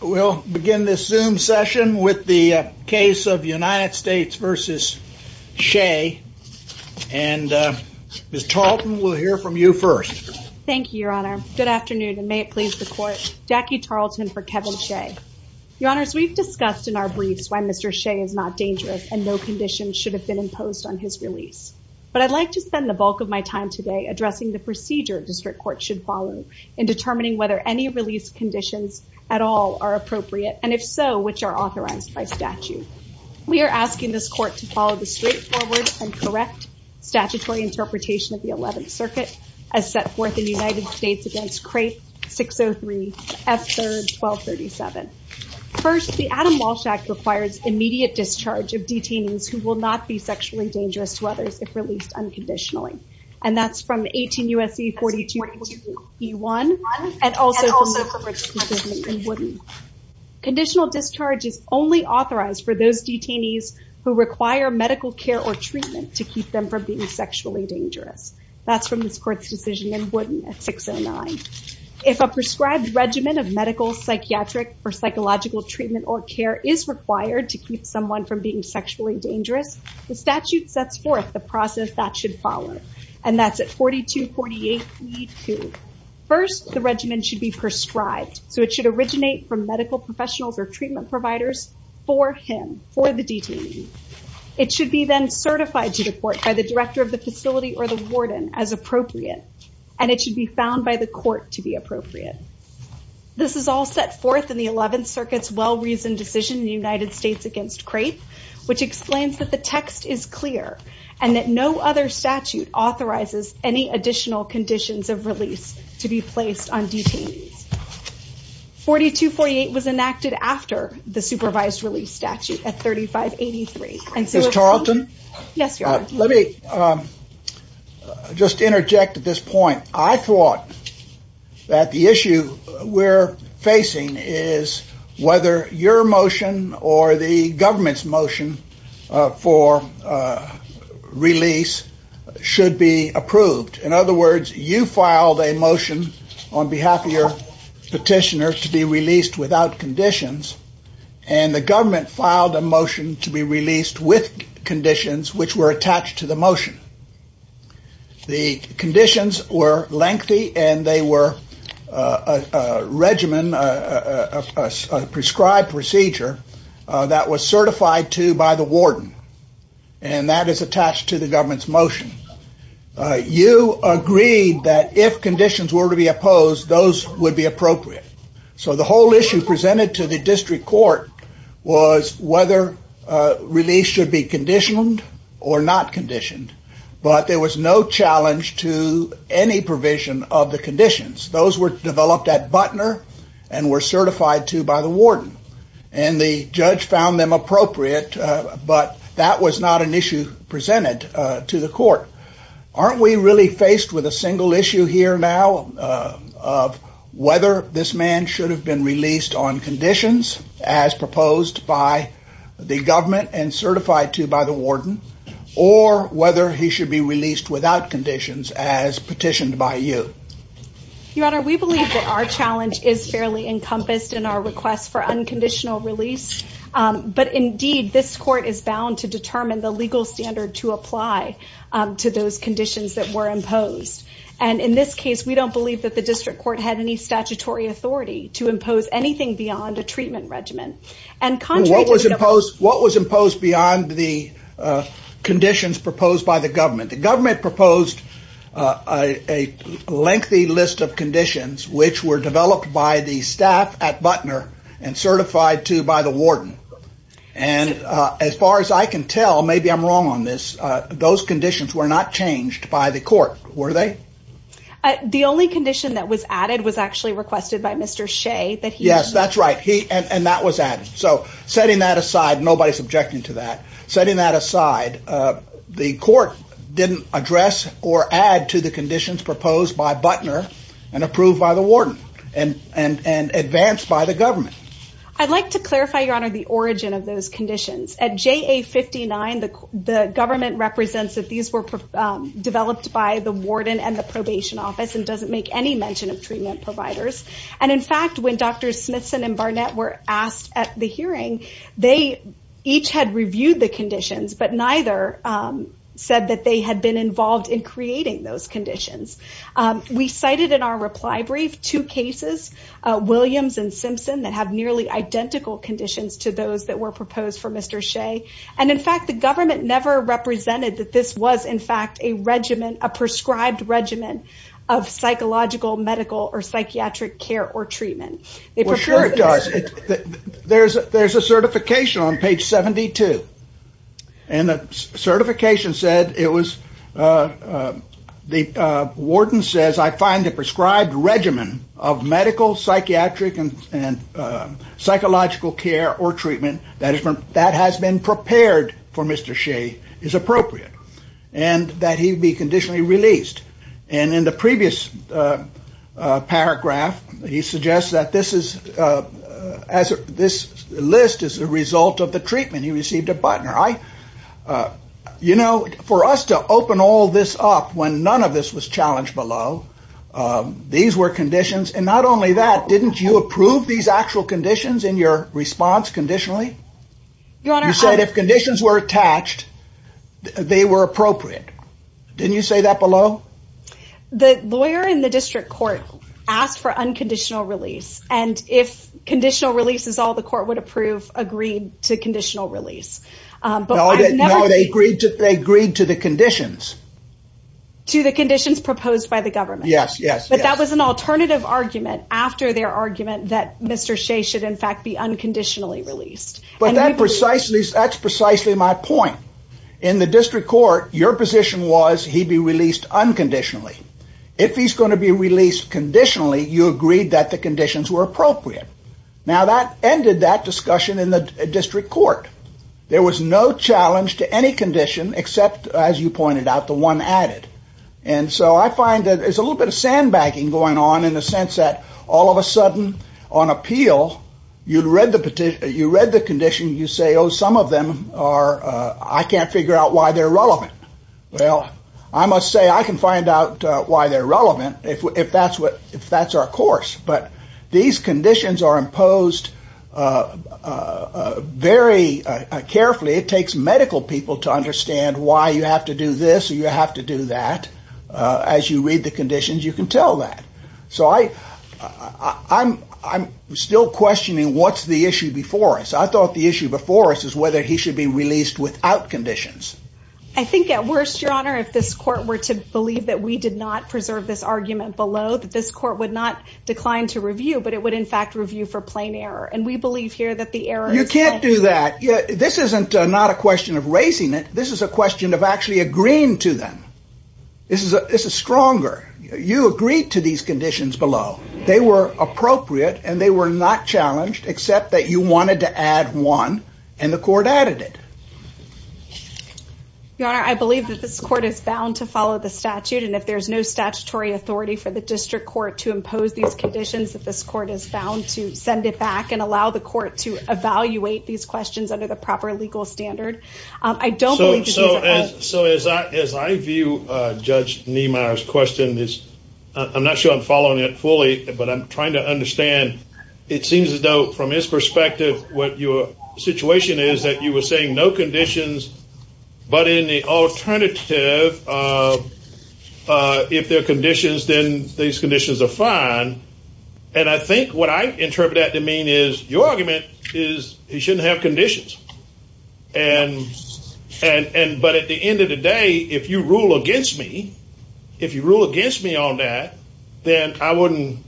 We'll begin this zoom session with the case of United States versus Shea. And Ms. Tarleton, we'll hear from you first. Thank you, Your Honor. Good afternoon, and may it please the court. Jackie Tarleton for Kevin Shea. Your Honors, we've discussed in our briefs when Mr. Shea is not dangerous and no conditions should have been imposed on his release. But I'd like to spend the bulk of my time today addressing the procedure district court should follow in determining whether any release conditions at all are appropriate, and if so, which are authorized by statute. We are asking this court to follow the straightforward and correct statutory interpretation of the 11th Circuit as set forth in the United States against Crate 603, F-3rd, 1237. First, the Adam Walsh Act requires immediate discharge of detainees who will not be sexually dangerous to others if released unconditionally. And that's from 18 U.S.C. 4242E1 and also from the court's decision in Wooden. Conditional discharge is only authorized for those detainees who require medical care or treatment to keep them from being sexually dangerous. That's from this court's decision in Wooden at 609. If a prescribed regimen of medical, psychiatric, or psychological treatment or care is required to keep someone from being sexually dangerous, the statute sets forth the process that should follow. And that's at 4248 E2. First, the regimen should be prescribed, so it should originate from medical professionals or treatment providers for him, for the detainee. It should be then certified to the court by the director of the facility or the warden as appropriate, and it should be found by the court to be appropriate. This is all set forth in the 11th Circuit's well-reasoned decision in the United States against Crate, which explains that the text is clear and that no other statute authorizes any additional conditions of release to be placed on detainees. 4248 was enacted after the supervised release statute at 3583. Ms. Tarleton? Yes, Your Honor. Let me just interject at this point. I thought that the issue we're facing is whether your motion or the government's motion for release should be approved. In other words, you filed a motion on behalf of your petitioner to be released without conditions, and the government filed a motion to be released with conditions which were attached to the motion. The conditions were lengthy and they were a regimen, a prescribed procedure that was certified to by the warden, and that is attached to the government's motion. You agreed that if conditions were to be opposed, those would be appropriate. So the whole issue presented to the district court was whether release should be conditioned or not conditioned, but there was no challenge to any provision of the conditions. Those were developed at Butner and were certified to by the warden, and the judge found them appropriate, but that was not an issue presented to the court. Aren't we really faced with a single issue here now of whether this man should have been released on conditions as proposed by the government and certified to by the warden, or whether he should be released without conditions as petitioned by you? Your Honor, we believe that our challenge is fairly encompassed in our request for unconditional release, but indeed this court is bound to determine the legal standard to apply to those conditions that were imposed, and in this case we don't believe that the district court had any statutory authority to impose anything beyond a treatment regimen. What was imposed beyond the conditions proposed by the government? The government proposed a lengthy list of conditions which were developed by the staff at Butner and certified to by the warden, and as far as I can tell, maybe I'm wrong on this, those conditions were not changed by the court, were they? The only condition that was added was actually so setting that aside, nobody's objecting to that, setting that aside, the court didn't address or add to the conditions proposed by Butner and approved by the warden and advanced by the government. I'd like to clarify, Your Honor, the origin of those conditions. At JA59, the government represents that these were developed by the warden and the probation office and doesn't make any changes to the conditions that were proposed by the warden and the probation office, and as far as Mr. Smithson and Barnett were asked at the hearing, they each had reviewed the conditions, but neither said that they had been involved in creating those conditions. We cited in our reply brief two cases, Williams and Simpson, that have nearly identical conditions to those that were proposed for Mr. Shea's treatment. Well, sure it does. There's a certification on page 72, and the certification said it was, the warden says, I find the prescribed regimen of medical, psychiatric, and psychological care or treatment that has been prepared for Mr. Shea is appropriate, and that he be this is, as this list is a result of the treatment, he received at Butner. I, you know, for us to open all this up when none of this was challenged below, these were conditions, and not only that, didn't you approve these actual conditions in your response conditionally? You said if conditions were attached, they were appropriate. Didn't you say that below? The lawyer in the district court asked for unconditional release, and if conditional release is all the court would approve, agreed to conditional release. No, they agreed to the conditions. To the conditions proposed by the government. Yes, yes. But that was an alternative argument after their argument that Mr. Shea should in fact be unconditionally released. But that precisely, that's precisely my point. In the district court, your position was he'd be released unconditionally. If he's going to be released conditionally, you agreed that the conditions were appropriate. Now that ended that discussion in the district court. There was no challenge to any condition except, as you pointed out, the one added. And so I find that there's a little bit of sandbagging going on in the sense that all of a sudden on appeal, you'd read the petition, you read the condition, you say, some of them are, I can't figure out why they're relevant. Well, I must say I can find out why they're relevant if that's what, if that's our course. But these conditions are imposed very carefully. It takes medical people to understand why you have to do this or you have to do that. As you read the conditions, you can tell that. So I, I'm still questioning what's the issue before us. I thought the issue before us is whether he should be released without conditions. I think at worst, your honor, if this court were to believe that we did not preserve this argument below that this court would not decline to review, but it would in fact review for plain error. And we believe here that the error, you can't do that. Yeah. This isn't not a question of raising it. This is a question of actually agreeing to them. This is a, this is except that you wanted to add one and the court added it. Your honor, I believe that this court is bound to follow the statute. And if there's no statutory authority for the district court to impose these conditions, that this court is bound to send it back and allow the court to evaluate these questions under the proper legal standard. I don't believe. So, so as, so as I, as I view Judge Niemeyer's question is I'm not sure I'm from his perspective, what your situation is that you were saying no conditions, but in the alternative, if there are conditions, then these conditions are fine. And I think what I interpret that to mean is your argument is he shouldn't have conditions. And, and, and, but at the end of the day, if you rule against me, if you rule against me on that, then I wouldn't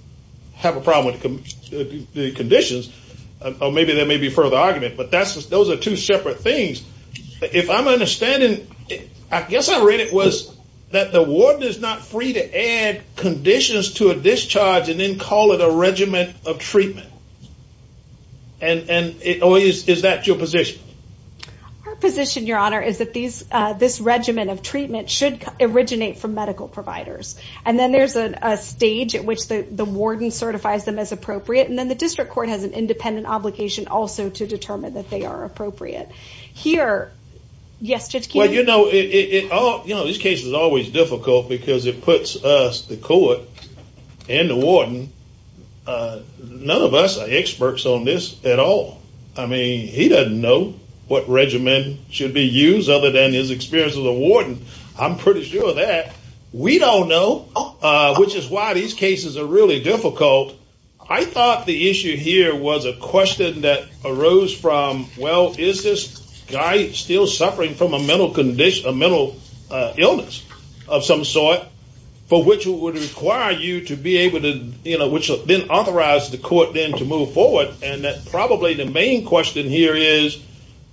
have a problem with the conditions. Or maybe there may be further argument, but that's, those are two separate things. If I'm understanding, I guess I read it was that the warden is not free to add conditions to a discharge and then call it a regimen of treatment. And, and it always, is that your position? Our position, your honor, is that these, this regimen of treatment should originate from and then the district court has an independent obligation also to determine that they are appropriate here. Yes, Judge Keenan. Well, you know, it, it, it all, you know, this case is always difficult because it puts us, the court and the warden, none of us are experts on this at all. I mean, he doesn't know what regimen should be used other than his experience as a warden. I'm pretty sure that we don't know which is why these cases are really difficult. I thought the issue here was a question that arose from, well, is this guy still suffering from a mental condition, a mental illness of some sort for which would require you to be able to, you know, which then authorized the court then to move forward. And that probably the main question here is,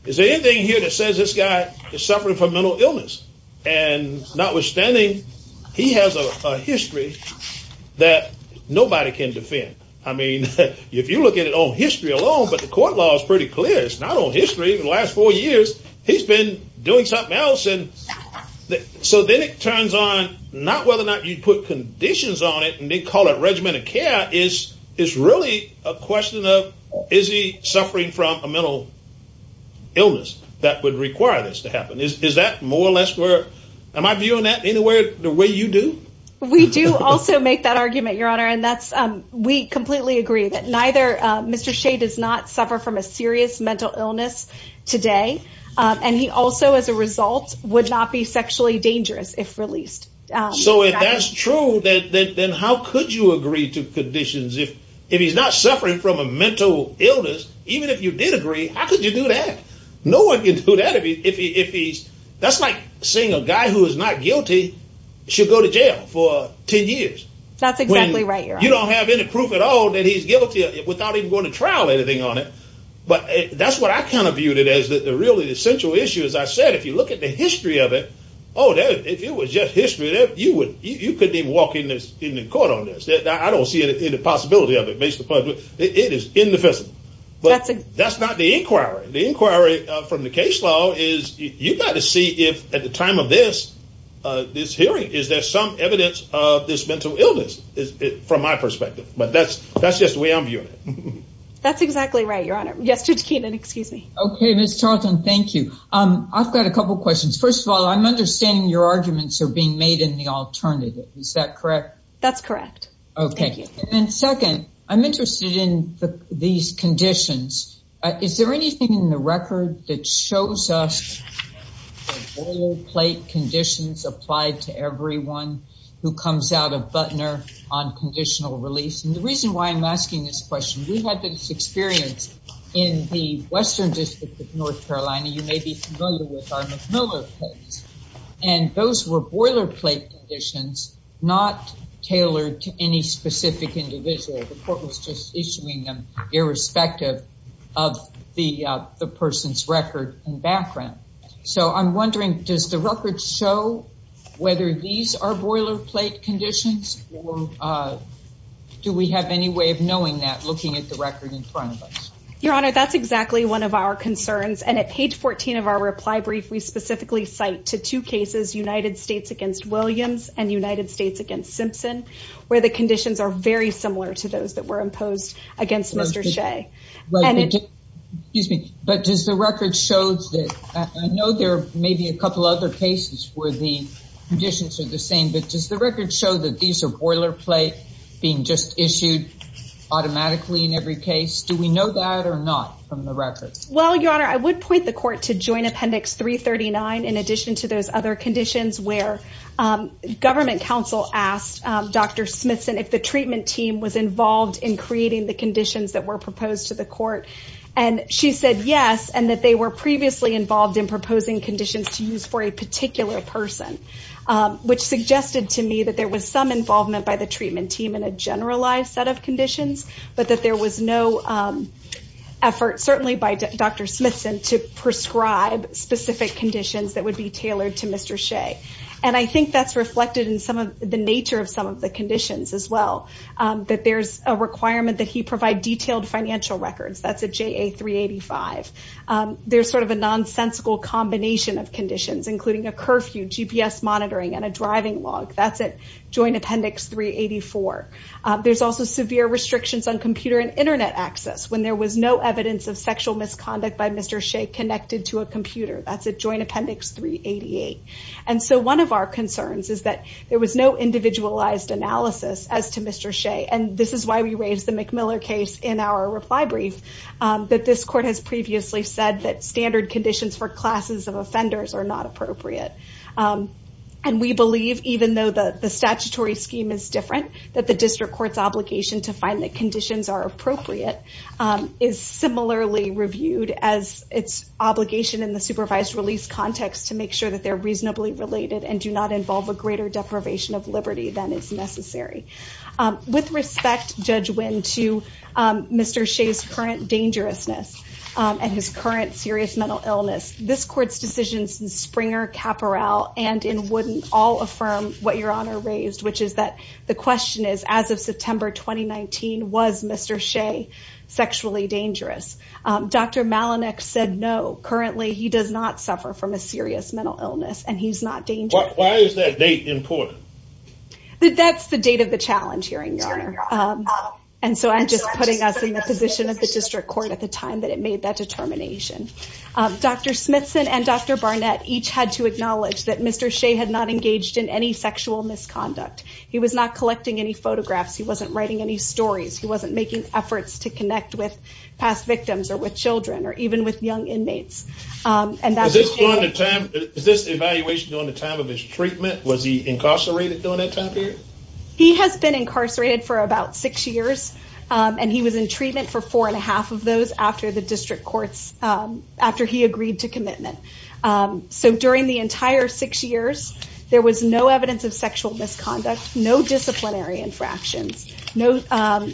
is there anything here that says this guy is suffering from mental illness? And notwithstanding, he has a history that nobody can defend. I mean, if you look at it on history alone, but the court law is pretty clear. It's not on history. The last four years, he's been doing something else. And so then it turns on not whether or not you put conditions on it and they call it regimen of care is, is really a question of, is he suffering from a am I viewing that anywhere the way you do? We do also make that argument, Your Honor. And that's, we completely agree that neither Mr. Shea does not suffer from a serious mental illness today. And he also, as a result would not be sexually dangerous if released. So if that's true, then how could you agree to conditions? If he's not suffering from a mental illness, even if you did agree, how could you do that? No one can do that. If he's, that's like seeing a guy who is not guilty. She'll go to jail for 10 years. That's exactly right. You don't have any proof at all that he's guilty without even going to trial anything on it. But that's what I kind of viewed it as the really essential issue. As I said, if you look at the history of it, Oh, that if it was just history that you would, you couldn't even walk in this in the court on this. I don't see it in the possibility of it makes the public. It is indefensible, but that's not the inquiry. The inquiry from the case law is you got to see if at the time of this, uh, this hearing, is there some evidence of this mental illness is from my perspective, but that's, that's just the way I'm viewing it. That's exactly right. Your Honor. Yes, Judge Keenan, excuse me. Okay. Ms. Charlton. Thank you. Um, I've got a couple of questions. First of all, I'm understanding your arguments are being made in the alternative. Is that correct? That's correct. Okay. And then second, I'm interested in these conditions. Is there anything in the record that shows us plate conditions applied to everyone who comes out of Butner on conditional release? And the reason why I'm asking this question, we've had this experience in the Western district of North Carolina. You may be familiar with our McMillan and those were plate conditions, not tailored to any specific individual. The court was just issuing them irrespective of the, uh, the person's record and background. So I'm wondering, does the record show whether these are boilerplate conditions or, uh, do we have any way of knowing that looking at the record in front of us? Your Honor, that's exactly one of our concerns. And at page 14 of our reply brief, we specifically cite to two cases, United States against Williams and United States against Simpson, where the conditions are very similar to those that were imposed against Mr. Shea. Excuse me, but does the record shows that I know there may be a couple other cases where the conditions are the same, but does the record show that these are boilerplate being just issued automatically in every case? Do we know that or not from the records? Well, Your Honor, I would point the court to joint appendix 339. In addition to those other conditions where, um, government council asked, um, Dr. Smithson, if the treatment team was involved in creating the conditions that were proposed to the court. And she said yes. And that they were previously involved in proposing conditions to use for a particular person, um, which suggested to me that there was some involvement by the treatment team in a generalized set of conditions, but that there was no, um, effort certainly by Dr. Smithson to prescribe specific conditions that would be tailored to Mr. Shea. And I think that's reflected in some of the nature of some of the conditions as well. Um, that there's a requirement that he provide detailed financial records. That's a JA 385. Um, there's sort of a nonsensical combination of conditions, including a curfew, GPS monitoring, and a driving log. That's at joint appendix 384. There's also severe restrictions on computer and internet access when there was no evidence of sexual misconduct by Mr. Shea connected to a computer. That's at joint appendix 388. And so one of our concerns is that there was no individualized analysis as to Mr. Shea. And this is why we raised the McMiller case in our reply brief, um, that this court has previously said that standard conditions for classes of offenders are not appropriate. Um, and we believe, even though the statutory scheme is different, that the district court's obligation to find that conditions are appropriate, um, is similarly reviewed as its obligation in the supervised release context to make sure that they're reasonably related and do not involve a greater deprivation of liberty than is necessary. Um, with respect, Judge Winn, to, um, Mr. Shea's current dangerousness, um, and his current serious mental illness, this court's decisions in Springer, Caporal, and in Wooden all affirm what Your Honor raised, which is that the question is, as of September 2019, was Mr. Shea sexually dangerous? Um, Dr. Malanick said no. Currently, he does not suffer from a serious mental illness and he's not dangerous. Why is that date important? That's the date of the challenge hearing, Your Honor. Um, and so I'm just putting us in the position of the district court at the time that it made that that Mr. Shea had not engaged in any sexual misconduct. He was not collecting any photographs. He wasn't writing any stories. He wasn't making efforts to connect with past victims or with children or even with young inmates. Um, and that's... Is this during the time, is this evaluation during the time of his treatment? Was he incarcerated during that time period? He has been incarcerated for about six years, um, and he was in treatment for four and a half of those after the district courts, um, after he agreed to commitment. Um, so during the entire six years, there was no evidence of sexual misconduct, no disciplinary infractions, no, um,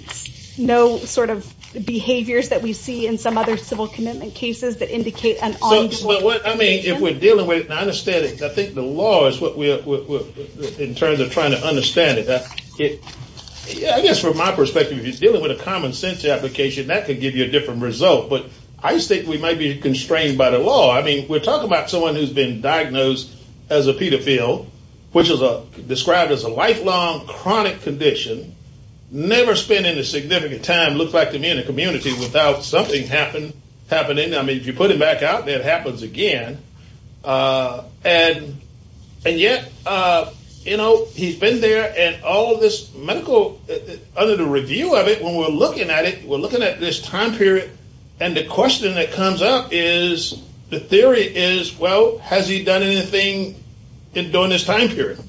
no sort of behaviors that we see in some other civil commitment cases that indicate an ongoing... I mean, if we're dealing with, and I understand it, I think the law is what we are in terms of trying to understand it. I guess from my perspective, if you're dealing with a common sense application, that could give you a different result. But I just think we might be constrained by the law. I mean, we're talking about someone who's been diagnosed as a pedophile, which is described as a lifelong chronic condition, never spending a significant time, it looks like to me, in a community without something happening. I mean, if you put him back out there, it happens again. Uh, and yet, uh, you know, he's been there and all of this medical... Under the review of it, when we're looking at it, we're looking at this time period. And the question that comes up is the theory is, well, has he done anything during this time period?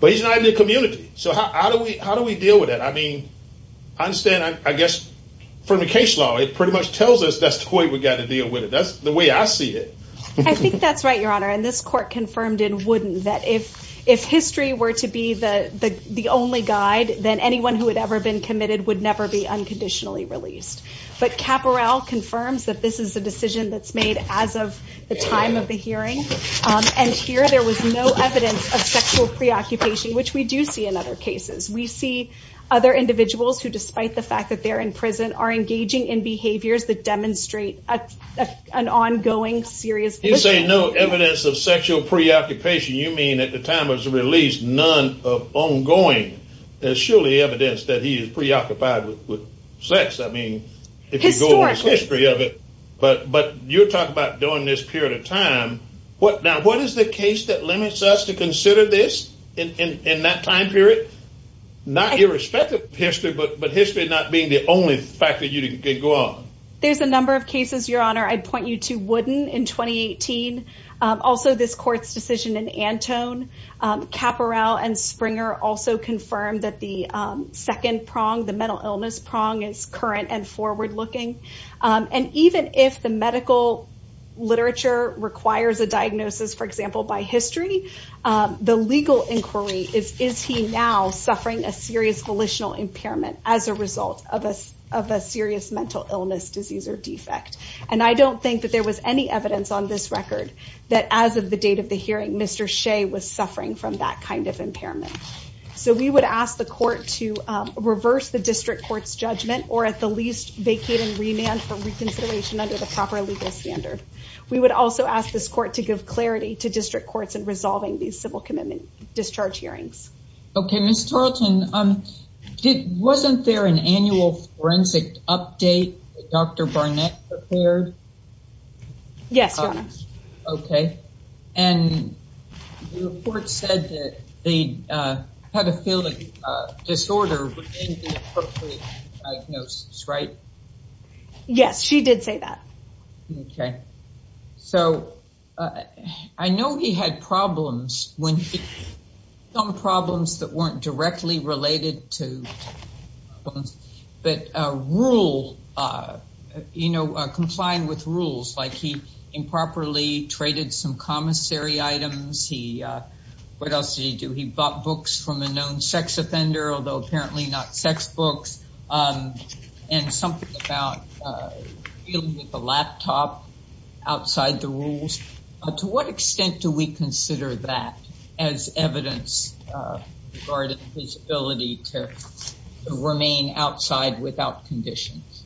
But he's not in the community. So how do we, how do we deal with it? I mean, I understand, I guess from the case law, it pretty much tells us that's the way we got to deal with it. That's the way I see it. I think that's right, Your Honor. And this court confirmed it wouldn't, that if, if history were to be the, the, the only guide, then anyone who had ever been committed would never be unconditionally released. But Caporale confirms that this is a decision that's made as of the time of the hearing. And here, there was no evidence of sexual preoccupation, which we do see in other cases. We see other individuals who, despite the fact that they're in prison, are engaging in behaviors that demonstrate an ongoing serious... You say no evidence of sexual preoccupation. You mean at the time of his release, none of ongoing. There's surely evidence that he is preoccupied with, with sex. I mean, if you go over the history of it, but, but you're talking about during this period of time, what now, what is the case that limits us to consider this in, in, in that time period? Not irrespective of history, but, but history not being the only factor you didn't go on. There's a number of cases, Your Honor, I'd point you to Wooden in 2018. Also this court's decision in Antone. Caporale and Springer also confirmed that the second prong, the mental illness prong, is current and forward-looking. And even if the medical literature requires a diagnosis, for example, by history, the legal inquiry is, is he now suffering a serious volitional impairment as a result of a, of a serious mental illness, disease, or defect? And I don't think that there was any evidence on this record that as of the date of the hearing, Mr. Shea was suffering from that kind of impairment. So we would ask the court to reverse the district court's judgment or at the least vacate and remand for reconsideration under the proper legal standard. We would also ask this court to give clarity to district courts in resolving these civil commitment discharge hearings. Okay, Ms. Tarleton, wasn't there an annual forensic update that Dr. Yes, Your Honor. Okay. And the report said that they, uh, had a feeling, uh, disorder within the appropriate diagnosis, right? Yes, she did say that. Okay. So, uh, I know he had problems when he, some problems that weren't directly related to problems, but, uh, rule, uh, you know, complying with rules, like he improperly traded some commissary items. He, uh, what else did he do? He bought books from a known sex offender, although apparently not sex books, um, and something about, uh, dealing with the laptop outside the rules. To what extent do we consider that as evidence, uh, regarding his ability to remain outside without conditions?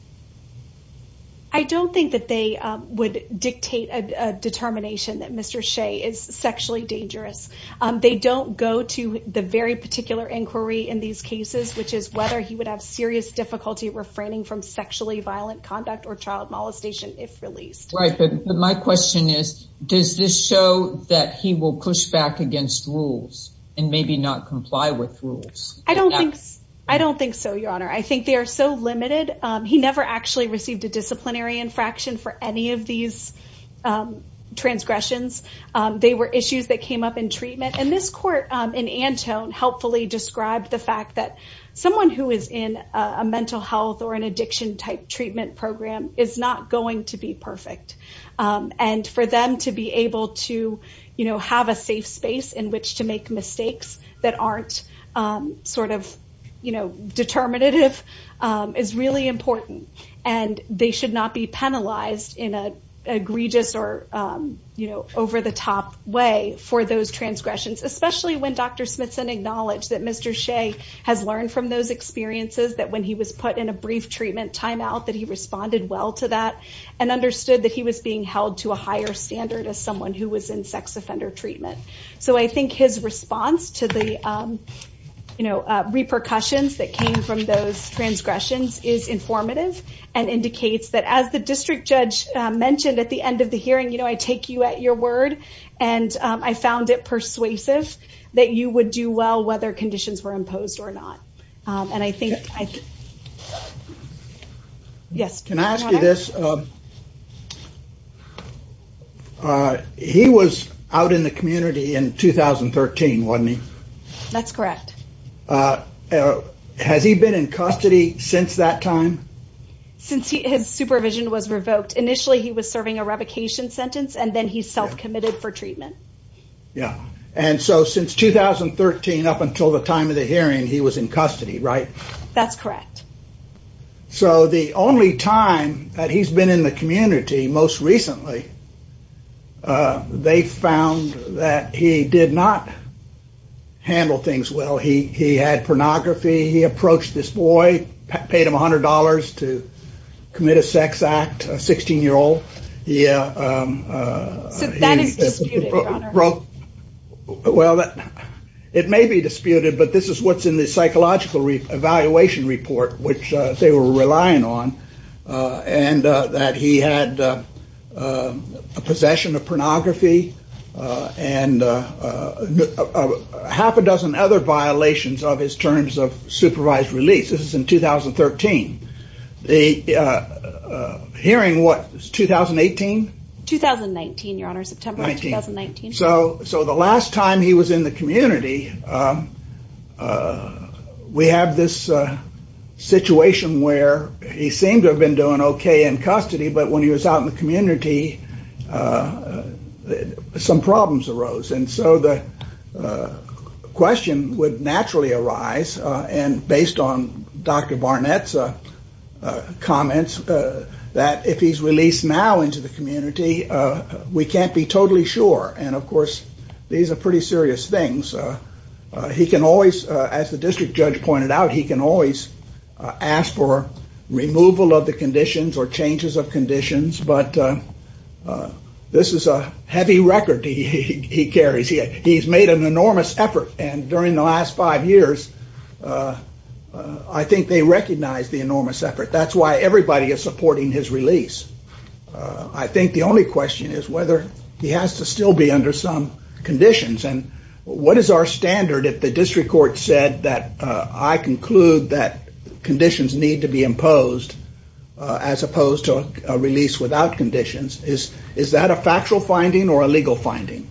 I don't think that they, um, would dictate a determination that Mr. Shea is sexually dangerous. Um, they don't go to the very particular inquiry in these cases, which is whether he would have serious difficulty refraining from sexually violent conduct or child molestation if released. Right. But my question is, does this show that he will push back against rules and maybe not comply with rules? I don't think so. I don't think so, Your Honor. I think they are so limited. He never actually received a disciplinary infraction for any of these, um, transgressions. Um, they were issues that came up in treatment and this court, um, in Antone helpfully described the fact that someone who is in a mental health or an addiction type treatment program is not going to be perfect. Um, and for them to be able to, you know, have a safe space in which to make mistakes that aren't, um, sort of, you know, determinative, um, is really important and they should not be penalized in a egregious or, um, you know, over the top way for those transgressions, especially when Dr. Smithson acknowledged that Mr. Shea has learned from those experiences that when he was put in a brief treatment timeout that he responded well to that and understood that he was being held to a higher standard as someone who was in sex offender treatment. So I think his response to the, um, you know, uh, repercussions that came from those transgressions is informative and indicates that as the district judge mentioned at the end of the hearing, you know, I take you at your word and, um, I found it persuasive that you would do well whether conditions were imposed or not. Um, and I think, yes, can I ask you this? Um, uh, he was out in the community in 2013, wasn't he? That's correct. Uh, has he been in custody since that time? Since he, his supervision was revoked. Initially he was serving a revocation sentence and then he self committed for treatment. Yeah. And so since 2013, up until the time of the hearing, he was in custody, right? That's correct. So the only time that he's been in the community most recently, uh, they found that he did not handle things well. He, he had pornography. He approached this boy, paid him a hundred dollars to commit a sex act, a 16 year old. Yeah. Um, uh, So that is disputed, your honor. Well, it may be disputed, but this is what's in the psychological evaluation report, which, uh, they were relying on, uh, and, uh, that he had, uh, um, a possession of pornography, uh, and, uh, uh, half a dozen other violations of his terms of supervised release. This is in 2013. The, uh, uh, hearing what was 2018, 2019, your honor, September 2019. So, so the last time he was in the community, um, uh, we have this, uh, situation where he seemed to have been doing okay in custody, but when he was out in the community, uh, some problems arose. And so the, uh, question would naturally arise, uh, and based on Dr. Barnett's, uh, uh, comments, uh, that if he's released now into the community, uh, we can't be totally sure. And of course, these are pretty serious things. Uh, uh, he can always, uh, as the district judge pointed out, he can always, uh, ask for removal of the conditions or changes of conditions, but, uh, uh, this is a heavy record he, he, he carries. He, he's made an enormous effort and during the last five years, uh, uh, I think they recognize the enormous effort. That's why everybody is under some conditions. And what is our standard if the district court said that, uh, I conclude that conditions need to be imposed, uh, as opposed to a release without conditions is, is that a factual finding or a legal finding?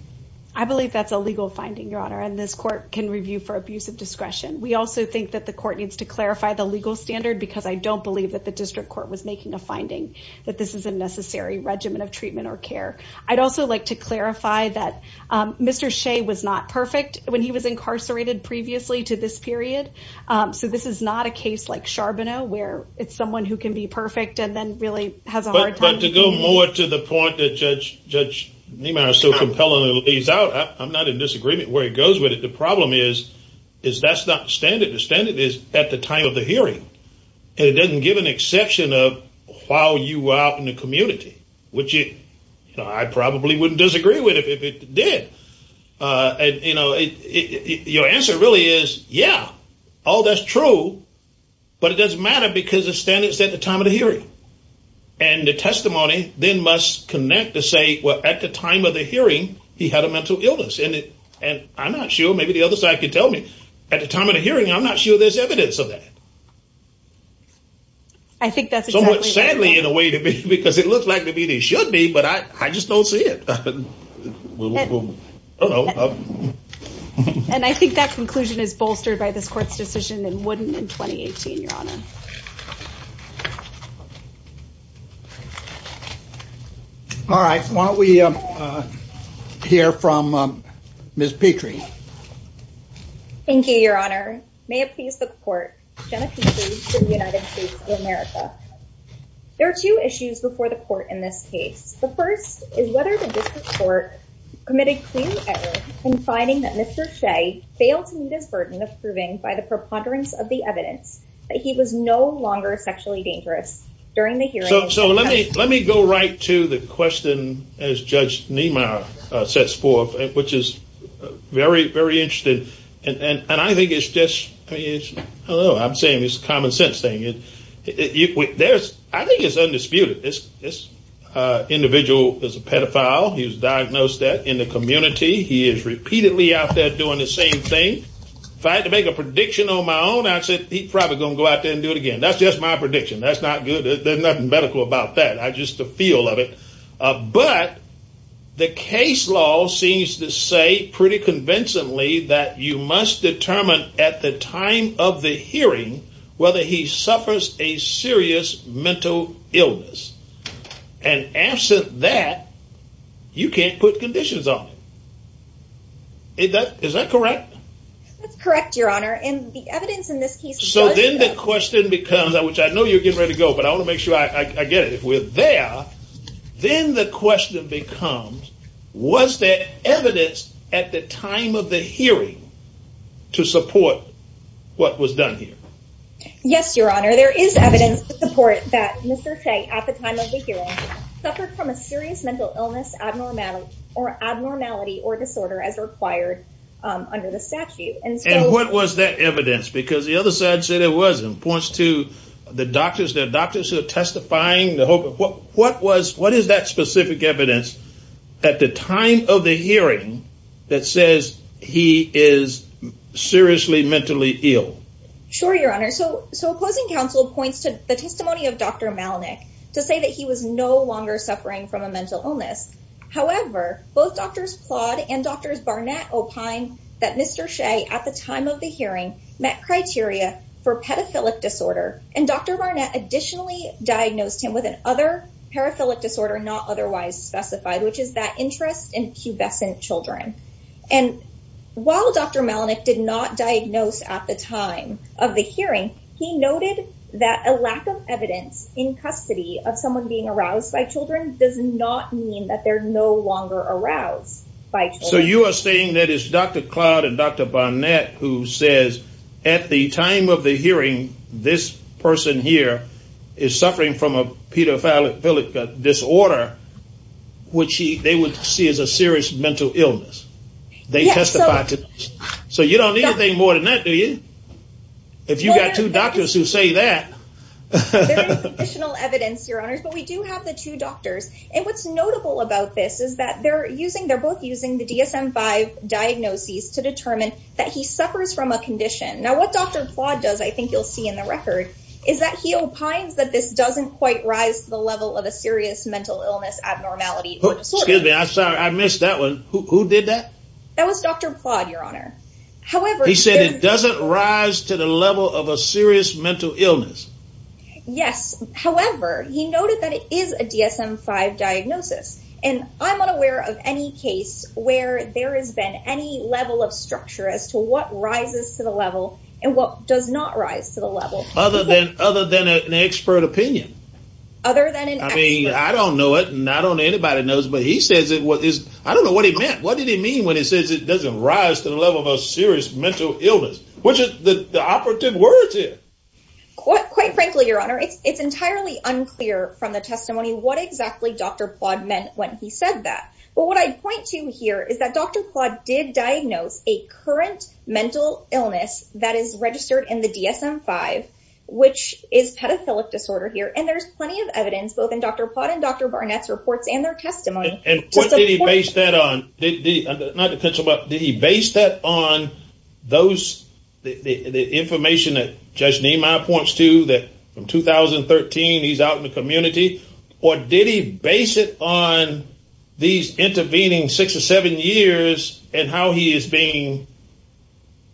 I believe that's a legal finding, your honor. And this court can review for abuse of discretion. We also think that the court needs to clarify the legal standard because I don't believe that the district court was making a finding that this is a that, um, Mr. Shea was not perfect when he was incarcerated previously to this period. Um, so this is not a case like Charbonneau where it's someone who can be perfect and then really has a hard time. But to go more to the point that judge, judge Niemeyer so compellingly lays out, I'm not in disagreement where it goes with it. The problem is, is that's not standard. The standard is at the time of the hearing. And it doesn't give an exception of while you were out in the which you, you know, I probably wouldn't disagree with it if it did. Uh, and you know, your answer really is, yeah, all that's true, but it doesn't matter because the standards at the time of the hearing and the testimony then must connect to say, well, at the time of the hearing, he had a mental illness in it. And I'm not sure, maybe the other side could tell me at the time of the hearing, I'm not sure there's evidence of that. I think that's exactly in a way to me because it looks like maybe they should be, but I, I just don't see it. And I think that conclusion is bolstered by this court's decision and wouldn't in 2018, your honor. All right. Why don't we, um, uh, hear from, um, Ms. Petrie. Thank you, your honor. May it please the court. There are two issues before the court in this case. The first is whether the district court committed clearly ever confiding that Mr. Shea failed to meet his burden of proving by the preponderance of the evidence that he was no longer sexually dangerous during the hearing. So let me, let me go right to the question as judge Niemeyer sets forth, which is very, very interesting. And, and, and I think it's just, I mean, I don't know, I'm saying it's a common sense thing. There's, I think it's undisputed. This, this, uh, individual is a pedophile. He was diagnosed that in the community. He is repeatedly out there doing the same thing. If I had to make a prediction on my own, I said, he probably going to go out there and do it again. That's just my prediction. That's not good. There's nothing medical about that. I just, the feel of it. Uh, but the case law seems to say pretty convincingly that you must determine at the time of the hearing, whether he suffers a serious mental illness and answer that you can't put conditions on it. That is that correct? That's correct. Your honor. And the I know you're getting ready to go, but I want to make sure I get it. If we're there, then the question becomes, was there evidence at the time of the hearing to support what was done here? Yes, your honor. There is evidence to support that Mr. Chang at the time of the hearing suffered from a serious mental illness, abnormality or abnormality or disorder as required, um, under the statute. And what was that evidence? Because the other side said it points to the doctors, the doctors who are testifying, the hope of what, what was, what is that specific evidence at the time of the hearing that says he is seriously mentally ill? Sure. Your honor. So, so opposing counsel points to the testimony of Dr. Malnick to say that he was no longer suffering from a mental illness. However, both doctors plod and doctors Barnett that Mr. Shea at the time of the hearing met criteria for pedophilic disorder. And Dr. Barnett additionally diagnosed him with an other paraphilic disorder, not otherwise specified, which is that interest in pubescent children. And while Dr. Malnick did not diagnose at the time of the hearing, he noted that a lack of evidence in custody of someone being aroused by children does not mean that they're no longer aroused. So you are saying that it's Dr. Cloud and Dr. Barnett who says at the time of the hearing, this person here is suffering from a pedophilic disorder, which he, they would see as a serious mental illness. They testified to this. So you don't need anything more than that. Do you? If you've got two doctors who say that additional evidence, your honors, but we do have the two doctors. And what's notable about this is that they're using, they're both using the DSM five diagnoses to determine that he suffers from a condition. Now what Dr. Claude does, I think you'll see in the record is that he opines that this doesn't quite rise to the level of a serious mental illness, abnormality, excuse me, I'm sorry. I missed that one. Who did that? That was Dr. Claude, your honor. However, he said it doesn't rise to the level of a serious mental illness. Yes. However, he noted that it is a DSM five diagnosis. And I'm not aware of any case where there has been any level of structure as to what rises to the level and what does not rise to the level other than, other than an expert opinion. Other than, I mean, I don't know it and I don't know anybody knows, but he says it was his, I don't know what he meant. What did he mean when he says it doesn't rise to the level of a serious mental illness, which is the operative words here. Quite, quite frankly, your honor. It's, it's entirely unclear from the testimony. What exactly Dr. Plott meant when he said that, but what I'd point to here is that Dr. Plott did diagnose a current mental illness that is registered in the DSM five, which is pedophilic disorder here. And there's plenty of evidence, both in Dr. Plott and Dr. Barnett's reports and their testimony. And what did he base that on? Not to cut you off, did he base that on those, the information that Judge Nima points to that from 2013, he's out in the community or did he base it on these intervening six or seven years and how he is being,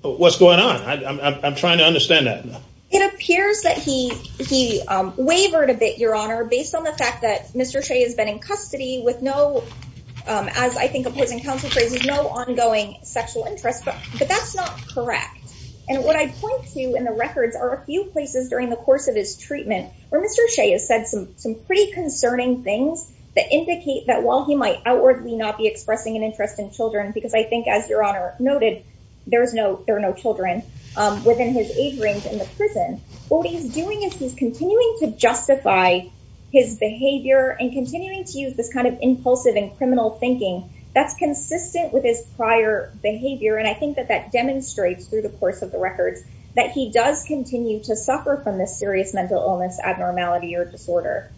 what's going on? I'm trying to understand that. It appears that he, he wavered a bit, your honor, based on the fact that Mr. Shea has been in custody with no, as I think opposing counsel phrases, no ongoing sexual interest, but, but that's not correct. And what I point to in the records are a few places during the course of his treatment, where Mr. Shea has said some, some pretty concerning things that indicate that while he might outwardly not be expressing an interest in children, because I think as your honor noted, there is no, there are no children within his age range in the prison. What he's doing is he's continuing to use this kind of impulsive and criminal thinking that's consistent with his prior behavior. And I think that that demonstrates through the course of the records that he does continue to suffer from this serious mental illness, abnormality, or disorder.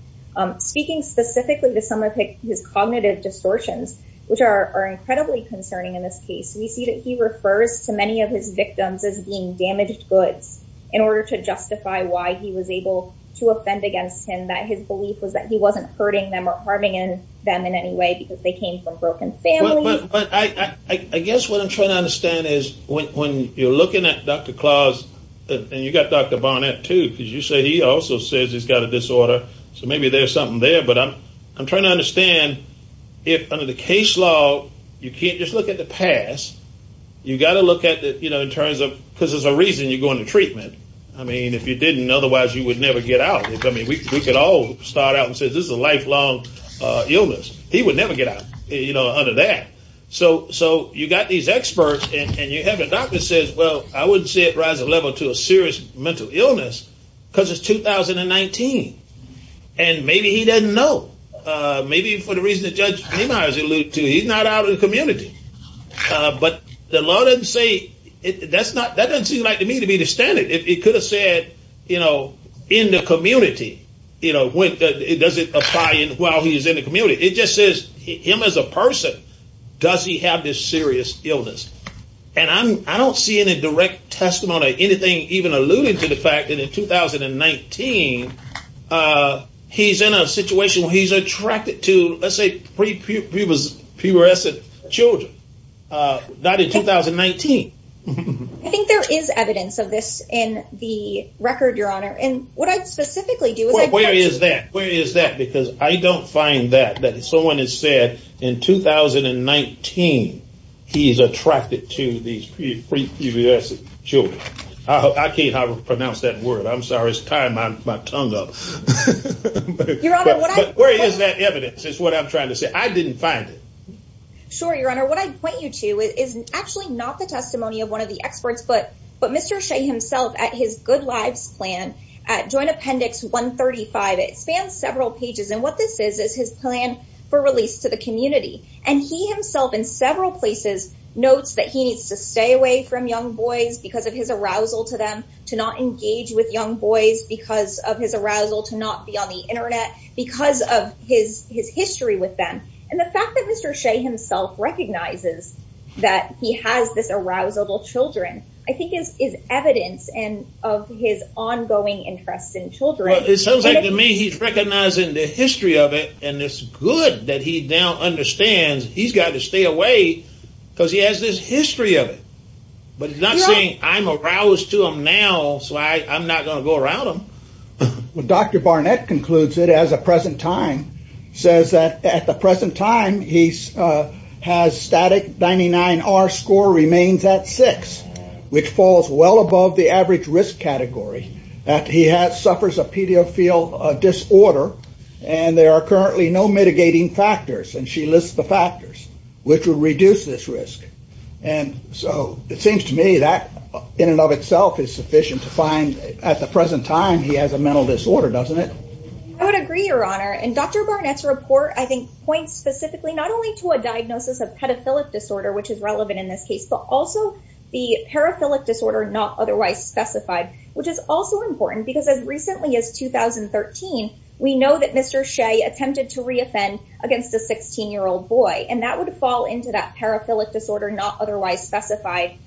Speaking specifically to some of his cognitive distortions, which are incredibly concerning in this case, we see that he refers to many of his victims as being damaged goods in order to justify why he was able to offend against him. That his belief was that he wasn't hurting them or harming them in any way because they came from broken family. I guess what I'm trying to understand is when you're looking at Dr. Claus and you got Dr. Barnett too, because you say he also says he's got a disorder. So maybe there's something there, but I'm, I'm trying to understand if under the case law, you can't just look at the past. You got to look at the, you know, in terms of, because there's a reason you go into treatment. I mean, if you didn't, otherwise you would never get out. I mean, we could all start out and say, this is a lifelong illness. He would never get out, you know, under that. So, so you got these experts and you have a doctor that says, well, I wouldn't see it rise a level to a serious mental illness because it's 2019. And maybe he doesn't know. Maybe for the reason that Judge Neimeyer alluded to, he's not out of the community. But the law doesn't say, that's not, that doesn't seem like to me to be standard. It could have said, you know, in the community, you know, does it apply while he's in the community? It just says him as a person, does he have this serious illness? And I'm, I don't see any direct testimony, anything even alluding to the fact that in 2019, he's in a situation where he's attracted to, let's say, pre-pubescent children. Not in 2019. I think there is evidence of this in the record, Your Honor. And what I'd specifically do is- Where is that? Where is that? Because I don't find that, that someone has said in 2019, he's attracted to these pre-pubescent children. I can't pronounce that word. I'm sorry. It's tying my tongue up. Your Honor, what I- But where is that evidence is what I'm trying to say. I didn't find it. Sure, Your Honor. What I'd point you to is actually not the testimony of one of the experts, but Mr. Shea himself at his Good Lives Plan, Joint Appendix 135, it spans several pages. And what this is, is his plan for release to the community. And he himself in several places notes that he needs to stay away from young boys because of his arousal to them, to not engage with young boys because of his arousal, to not be on the internet because of his history with them. And the fact that Mr. Shea himself recognizes that he has this arousal to children, I think is evidence of his ongoing interest in children. It sounds like to me he's recognizing the history of it, and it's good that he now understands he's got to stay away because he has this history of it. But he's not saying, I'm aroused to them now, so I'm not going to go around them. Dr. Barnett concludes it as a present time, says that at the present time he has static 99R score remains at six, which falls well above the average risk category, that he suffers a pediophile disorder, and there are currently no mitigating factors. And she lists the factors which will reduce this risk. And so it seems to me that in and of itself is sufficient to find at the present time he has a mental disorder, doesn't it? I would agree, Your Honor. And Dr. Barnett's report, I think, points specifically not only to a diagnosis of pedophilic disorder, which is relevant in this case, but also the paraphilic disorder not otherwise specified, which is also important because as recently as 2013, we know that Mr. Shea attempted to reoffend against a 16-year-old boy, and that would fall into that paraphilic disorder not otherwise specified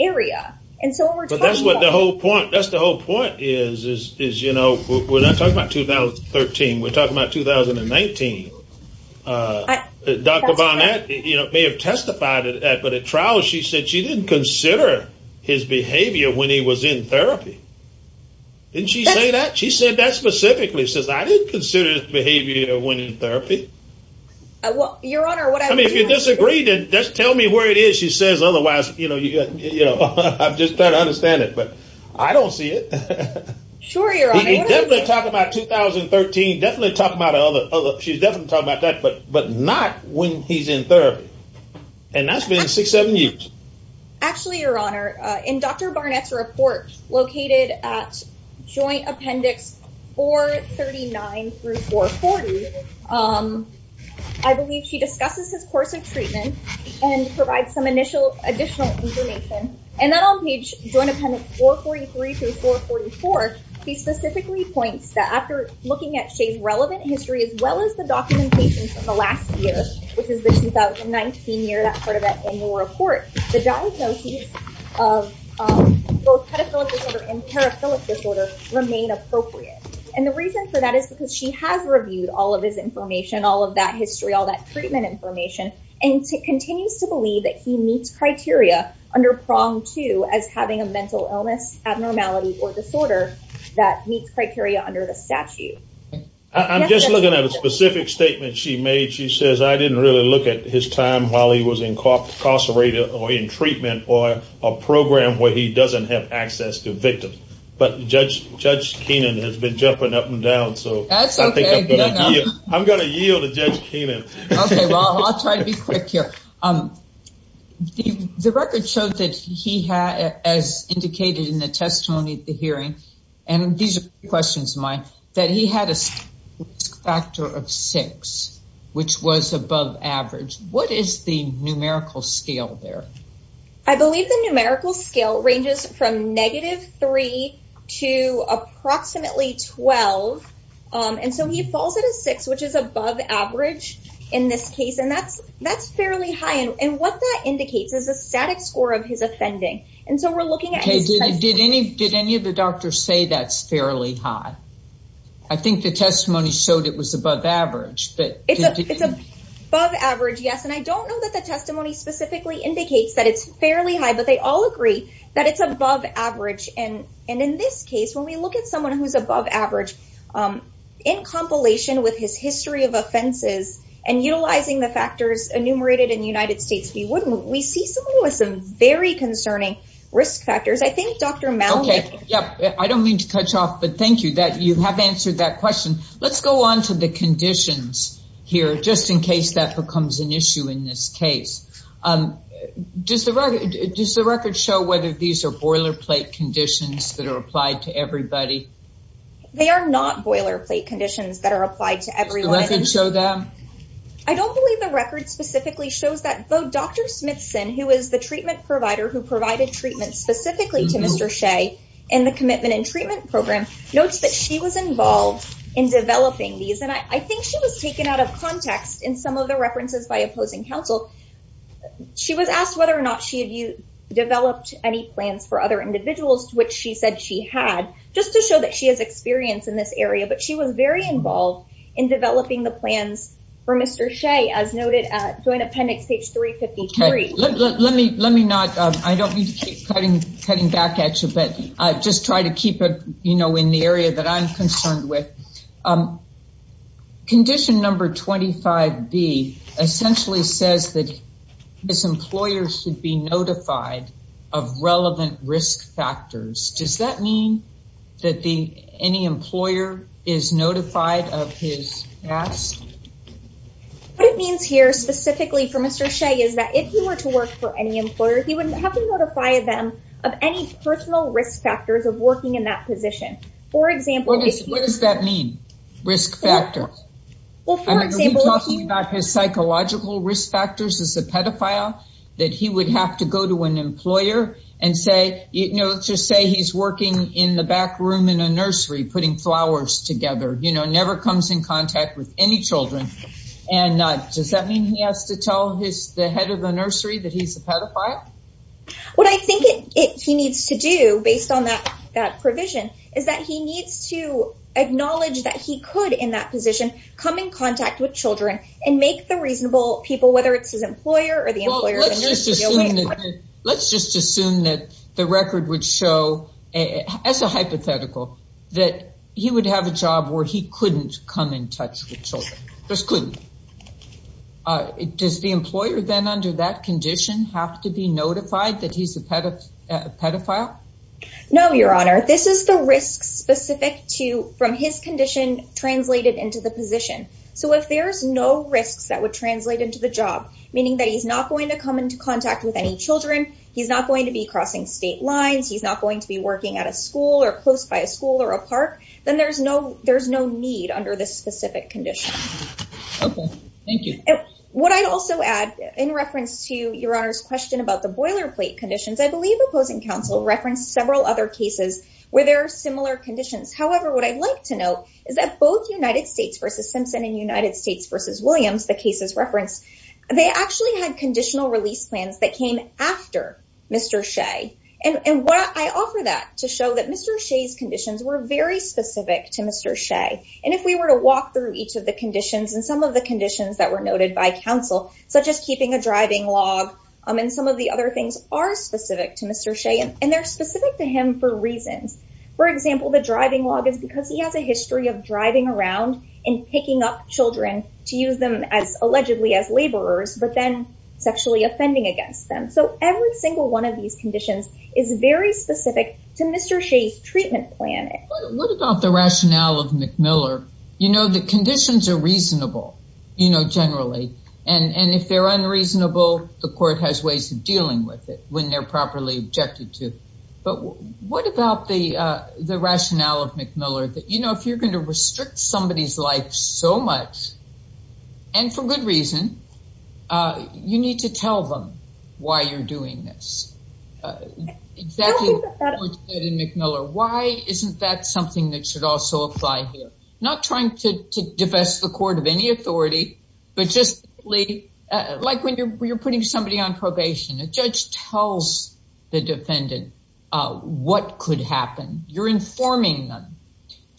area. And so that's what the whole point, that's the whole point is, is, you know, we're not talking about 2013, we're talking about 2019. Dr. Barnett, you know, may have testified to that, but at trial she said she didn't consider his behavior when he was in therapy. Didn't she say that? She said that specifically, says I didn't consider his behavior when in therapy. Your Honor, what I mean, just tell me where it is she says, otherwise, you know, you know, I'm just trying to understand it, but I don't see it. Sure, Your Honor. Definitely talk about 2013, definitely talk about other, she's definitely talking about that, but not when he's in therapy, and that's been six, seven years. Actually, Your Honor, in Dr. Barnett's report, located at Joint Appendix 439 through 440, um, I believe she discusses his course of treatment and provides some initial additional information, and then on page Joint Appendix 443 through 444, she specifically points that after looking at Shay's relevant history, as well as the documentation from the last year, which is the 2019 year, that part of that annual report, the diagnoses of both pedophilic disorder and paraphilic disorder remain appropriate. And the reason for that is because she has reviewed all of his information, all of that history, all that treatment information, and continues to believe that he meets criteria under prong 2 as having a mental illness, abnormality, or disorder that meets criteria under the statute. I'm just looking at a specific statement she made. She says, I didn't really look at his time while he was incarcerated or in treatment or a program where he doesn't have access to victims, but Judge Kenan has been jumping up and down, so I'm going to yield to Judge Kenan. Okay, well, I'll try to be quick here. The record showed that he had, as indicated in the testimony at the hearing, and these are questions of mine, that he had a risk factor of 6, which was above average. What is the numerical scale there? I believe the numerical scale ranges from negative 3 to approximately 12, and so he falls at a 6, which is above average in this case, and that's fairly high, and what that indicates is a static score of his offending, and so we're looking at his testimony. Did any of the doctors say that's fairly high? I think the testimony showed it was above average. It's above average, yes, and I don't know that the testimony specifically indicates that it's fairly high, but they all agree that it's above average, and in this case, when we look at someone who's above average, in compilation with his history of offenses and utilizing the factors enumerated in the United States, we see someone with some very concerning risk factors. I think Dr. Mallick... Okay, yep, I don't mean to touch off, but thank you that you have answered that question. Let's go on to the conditions here, just in case that becomes an issue in this case. Does the record show whether these are boilerplate conditions that are applied to everybody? They are not boilerplate conditions that are applied to everyone. Does the record show that? I don't believe the record specifically shows that, though Dr. Smithson, who is the treatment provider who provided treatment specifically to Mr. Shea in the Commitment and Treatment Program, notes that she was involved in developing these, and I think she was taken out of context in some of the references by opposing counsel. She was asked whether or not she had developed any plans for other individuals, which she said she had, just to show that she has experience in this area, but she was very involved in developing the plans for Mr. Shea, as noted at Joint Appendix page 353. Okay, let me not... I don't need to keep cutting back at you, but I'll just try to keep it in the area that I'm concerned with. Condition number 25B essentially says that this employer should be notified of relevant risk factors. Does that mean that any employer is notified of his task? What it means here specifically for Mr. Shea is that if he were to work for any employer, he wouldn't have to notify them of any personal risk factors of working in that position. For example, if he... What does that mean, risk factor? Are we talking about his psychological risk factors as a pedophile, that he would have to go to an employer and say... Let's just say he's working in the back room in a nursery, putting flowers together, never comes in contact with any children, and does that mean he has to tell the head of the nursery that he's a pedophile? What I think he needs to do, based on that provision, is that he needs to acknowledge that he could, in that position, come in contact with children and make the reasonable people, whether it's his employer or the employer... Let's just assume that the record would show, as a hypothetical, that he would have a job where he couldn't come in touch with children, just couldn't. Does the employer then under that is the risk specific to, from his condition, translated into the position? If there's no risks that would translate into the job, meaning that he's not going to come into contact with any children, he's not going to be crossing state lines, he's not going to be working at a school or close by a school or a park, then there's no need under this specific condition. Okay. Thank you. What I'd also add, in reference to Your Honor's question about the boilerplate conditions, I believe opposing counsel referenced several other cases where there are similar conditions. However, what I'd like to note is that both United States v. Simpson and United States v. Williams, the cases referenced, they actually had conditional release plans that came after Mr. Shea. And I offer that to show that Mr. Shea's conditions were very specific to Mr. Shea. And if we were to walk through each of the conditions and some of the conditions that noted by counsel, such as keeping a driving log, and some of the other things are specific to Mr. Shea, and they're specific to him for reasons. For example, the driving log is because he has a history of driving around and picking up children to use them as allegedly as laborers, but then sexually offending against them. So every single one of these conditions is very specific to Mr. Shea's treatment plan. What about the rationale of McMiller? You know, the conditions are reasonable, you know, generally. And if they're unreasonable, the court has ways of dealing with it when they're properly objected to. But what about the rationale of McMiller that, you know, if you're going to restrict somebody's life so much, and for good reason, you need to tell them why you're doing this? Why isn't that something that should also apply here? Not trying to divest the court of any authority, but just like when you're putting somebody on probation, a judge tells the defendant what could happen. You're informing them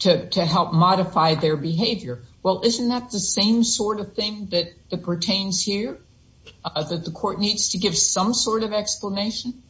to help modify their behavior. Well, isn't that the same sort of thing that pertains here? That the court needs to give some sort of explanation?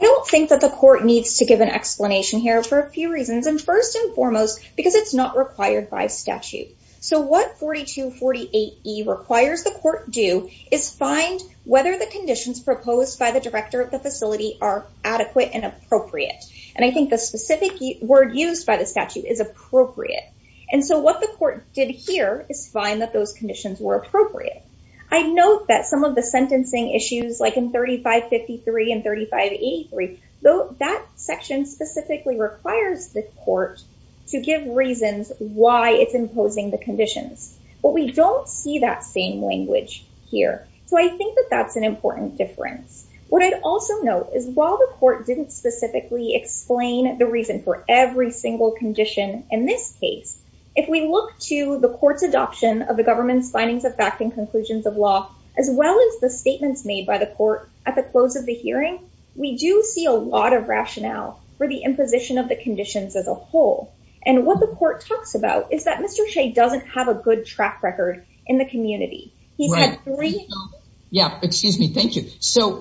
I don't think that the court needs to give an explanation here for a few reasons. And first and foremost, because it's not required by statute. So what 4248E requires the court do is find whether the conditions proposed by the director of the facility are adequate and appropriate. And I think the specific word used by the statute is appropriate. And so what the court did here is find that those conditions were appropriate. I note that some of the sentencing issues like in 3553 and 3583, though that section specifically requires the court to give reasons why it's imposing the conditions. But we don't see that same language here. So I think that that's an important difference. What I'd also note is while the court didn't specifically explain the reason for every single condition in this case, if we look to the court's adoption of the government's findings of fact and conclusions of law, as well as the statements made by the court at the close of the hearing, we do see a lot of rationale for the imposition of the conditions as a whole. And what the court talks about is that Mr. Shea doesn't have a good track record in the community. Yeah, excuse me. Thank you. So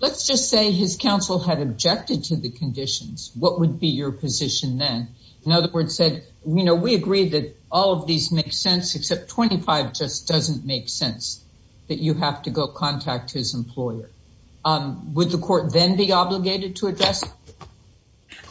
let's just say his counsel had objected to the conditions, what would be your position then? In other words, we agree that all of these make sense, except 25 just doesn't make sense that you have to go contact his employer. Would the court then be obligated to address?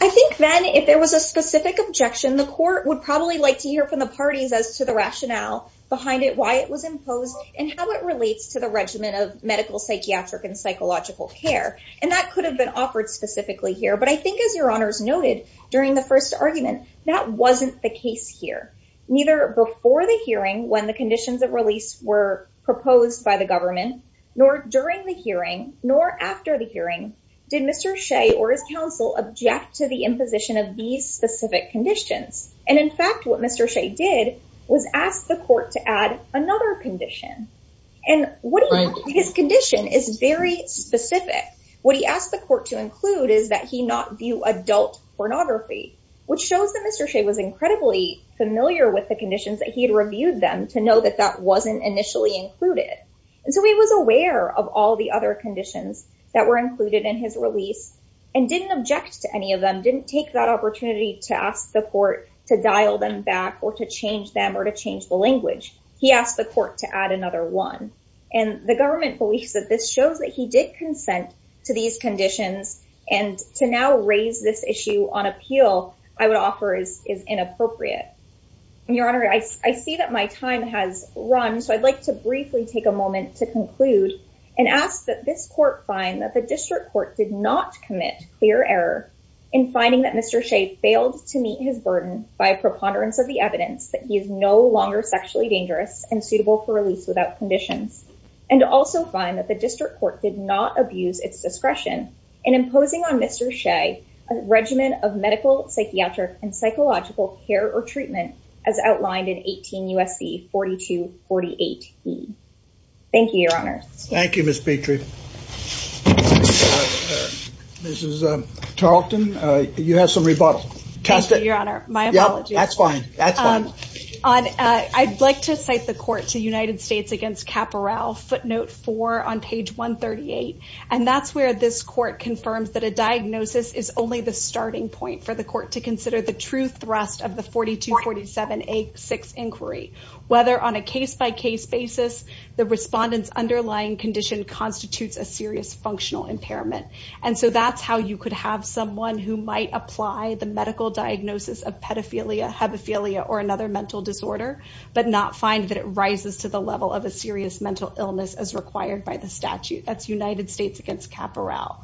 I think then if there was a specific objection, the court would probably like to hear from the parties as to the rationale behind it, why it was imposed, and how it relates to the regimen of medical, psychiatric, and psychological care. And that could have been offered specifically here. But I think as your honors noted, during the first argument, that wasn't the case here. Neither before the hearing when the conditions of release were proposed by the government, nor during the hearing, nor after the hearing, did Mr. Shea or his counsel object to the imposition of these specific conditions. And in fact, what Mr. Shea did was asked the court to add another condition. And what his condition is very specific. What he asked the court to include is that he not view adult pornography, which shows that Mr. Shea was incredibly familiar with the conditions that he had reviewed them to know that that wasn't initially included. And so he was aware of all the other conditions that were included in his release, and didn't object to any of them didn't take that opportunity to ask the court to dial them back or to change them or to change the this shows that he did consent to these conditions. And to now raise this issue on appeal, I would offer is is inappropriate. Your Honor, I see that my time has run. So I'd like to briefly take a moment to conclude and ask that this court find that the district court did not commit clear error in finding that Mr. Shea failed to meet his burden by preponderance of the evidence that he is no longer sexually dangerous and suitable for release without conditions, and also find that the district court did not abuse its discretion in imposing on Mr. Shea, a regimen of medical psychiatric and psychological care or treatment, as outlined in 18 USC 4248. Thank you, Your Honor. Thank you, Miss Petrie. This is Tarleton. You have some rebuttal. Test it, Your Honor. My apologies. That's fine. I'd like to cite the court to United States against Caporal footnote four on page 138. And that's where this court confirms that a diagnosis is only the starting point for the court to consider the true thrust of the 4247A6 inquiry, whether on a case by case basis, the respondent's underlying condition constitutes a serious functional impairment. And so that's how you could have someone who might apply the medical diagnosis of pedophilia, hebephilia, or another mental disorder, but not find that it rises to the level of a serious mental illness as required by the statute. That's United States against Caporal.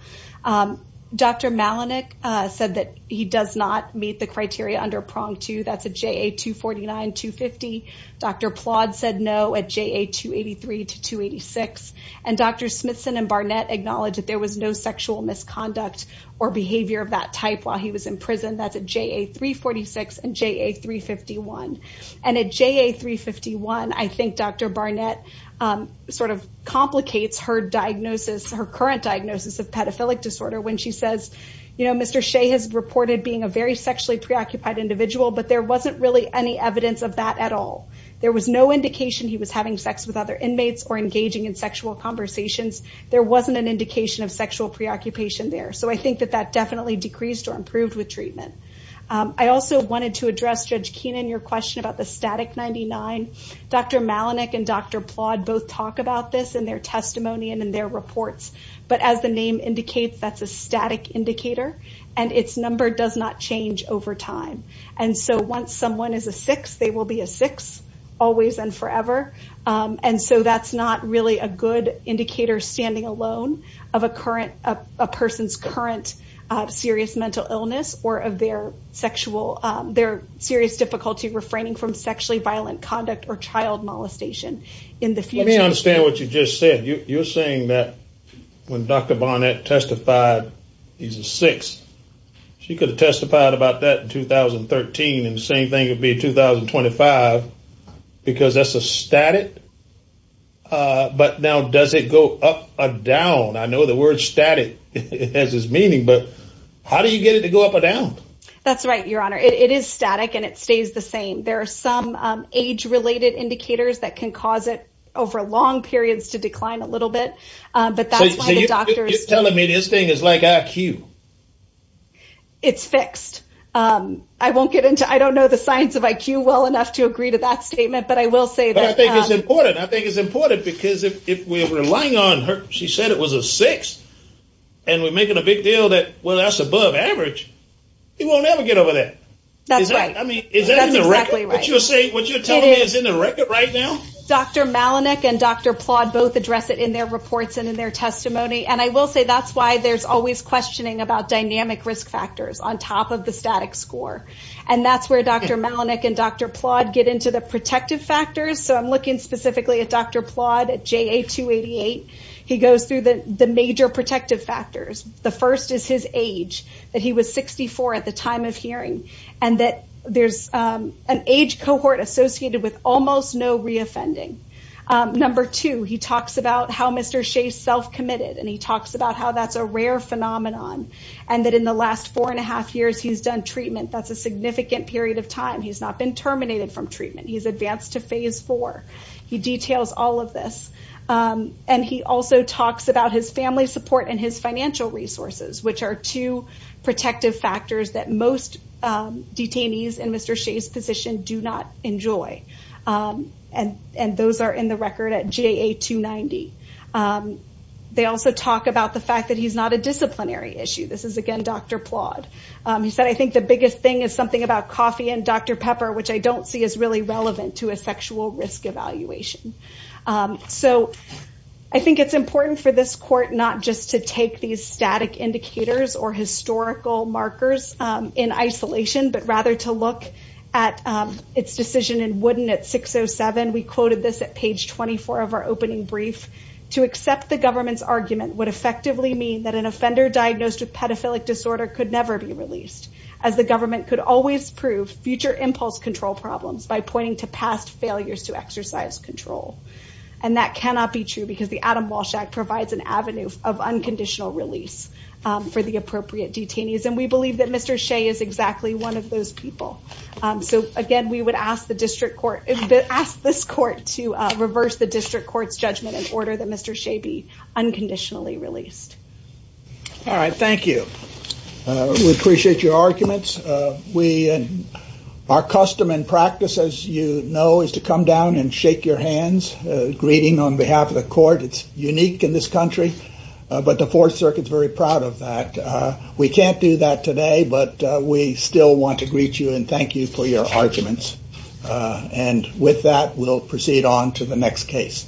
Dr. Malenik said that he does not meet the criteria under prong two. That's a JA 249, 250. Dr. Plodd said no at JA 283 to 286. And Dr. Smithson and Barnett acknowledged that there was no sexual misconduct or behavior of that type while he was in prison. That's at JA 346 and JA 351. And at JA 351, I think Dr. Barnett sort of complicates her diagnosis, her current diagnosis of pedophilic disorder when she says, you know, Mr. Shea has reported being a very sexually preoccupied individual, but there wasn't really any evidence of that at all. There was no indication he was having sex with other inmates or engaging in sexual conversations. There wasn't an indication of sexual preoccupation there. So I think that that definitely decreased or improved with treatment. I also wanted to address, Judge Keenan, your question about the static 99. Dr. Malenik and Dr. Plodd both talk about this in their testimony and in their reports, but as the name indicates, that's a static indicator and its number does not change over time. And so once someone is a six, they will be a six always and forever. And so that's not really a good indicator standing alone of a current, a person's current serious mental illness or of their sexual, their serious difficulty refraining from sexually violent conduct or child molestation in the future. Let me understand what you just said. You're saying that when Dr. Barnett testified, he's a six. She could have testified about that in 2013 and the same thing would be 2025 because that's a static. But now does it go up or down? I know the word static has its meaning, but how do you get it to go up or down? That's right, Your Honor. It is static and it stays the same. There are some age related indicators that can cause it over long periods to decline a little bit. But that's why the doctors... So you're telling me this thing is like IQ? It's fixed. I won't get into, I don't know the science of IQ well enough to agree to that statement, but I will say that... But I think it's important. I think it's important because if we're relying on her, she said it was a six and we're making a big deal that, well, that's above average, he won't ever get over that. That's right. I mean, is that in the record? That's exactly right. But you're saying, what you're telling me is in the record right now? Dr. Malenik and Dr. Plodd both address it in their reports and in their testimony. And I will say that's why there's always questioning about dynamic risk factors on top of the static score. And that's where Dr. Malenik and Dr. Plodd get into the protective factors. So I'm looking specifically at Dr. Plodd at JA-288. He goes through the major protective factors. The first is his age, that he was 64 at the time of hearing and that there's an age cohort associated with almost no re-offending. Number two, he talks about how Mr. Shea self-committed and he talks about how that's a rare phenomenon. And that in the last four and a half years, he's done treatment. That's a significant period of time. He's not been terminated from treatment. He's advanced to phase four. He details all of this. And he also talks about his family support and his financial resources, which are two protective factors that most detainees in Mr. Shea's position do not enjoy. And those are in the record at JA-290. They also talk about the fact that he's not a disciplinary issue. This is, again, Dr. Plodd. He said, I think the biggest thing is something about coffee and Dr. Pepper, which I don't see as really relevant to a sexual risk evaluation. So I think it's important for this court not just to take these static indicators or historical markers in isolation, but rather to look at its decision in Wooden at 607. We quoted this at page 24 of our opening brief. To accept the government's argument would effectively mean that an offender diagnosed with pedophilic disorder could never be released as the government could always prove future impulse control problems by pointing to past failures to exercise control. And that cannot be true because the Adam Walsh Act provides an avenue of unconditional release for the appropriate detainees. And we believe that Mr. Shea is exactly one of those people. So again, we would ask this court to reverse the district court's judgment in order that Mr. Shea be unconditionally released. All right. Thank you. We appreciate your arguments. Our custom and practice, as you know, is to come down and shake your hands, greeting on behalf of the court. It's unique in this country, but the Fourth Circuit is very proud of that. We can't do that today, but we still want to greet you and thank you for your arguments. And with that, we'll proceed on to the next case.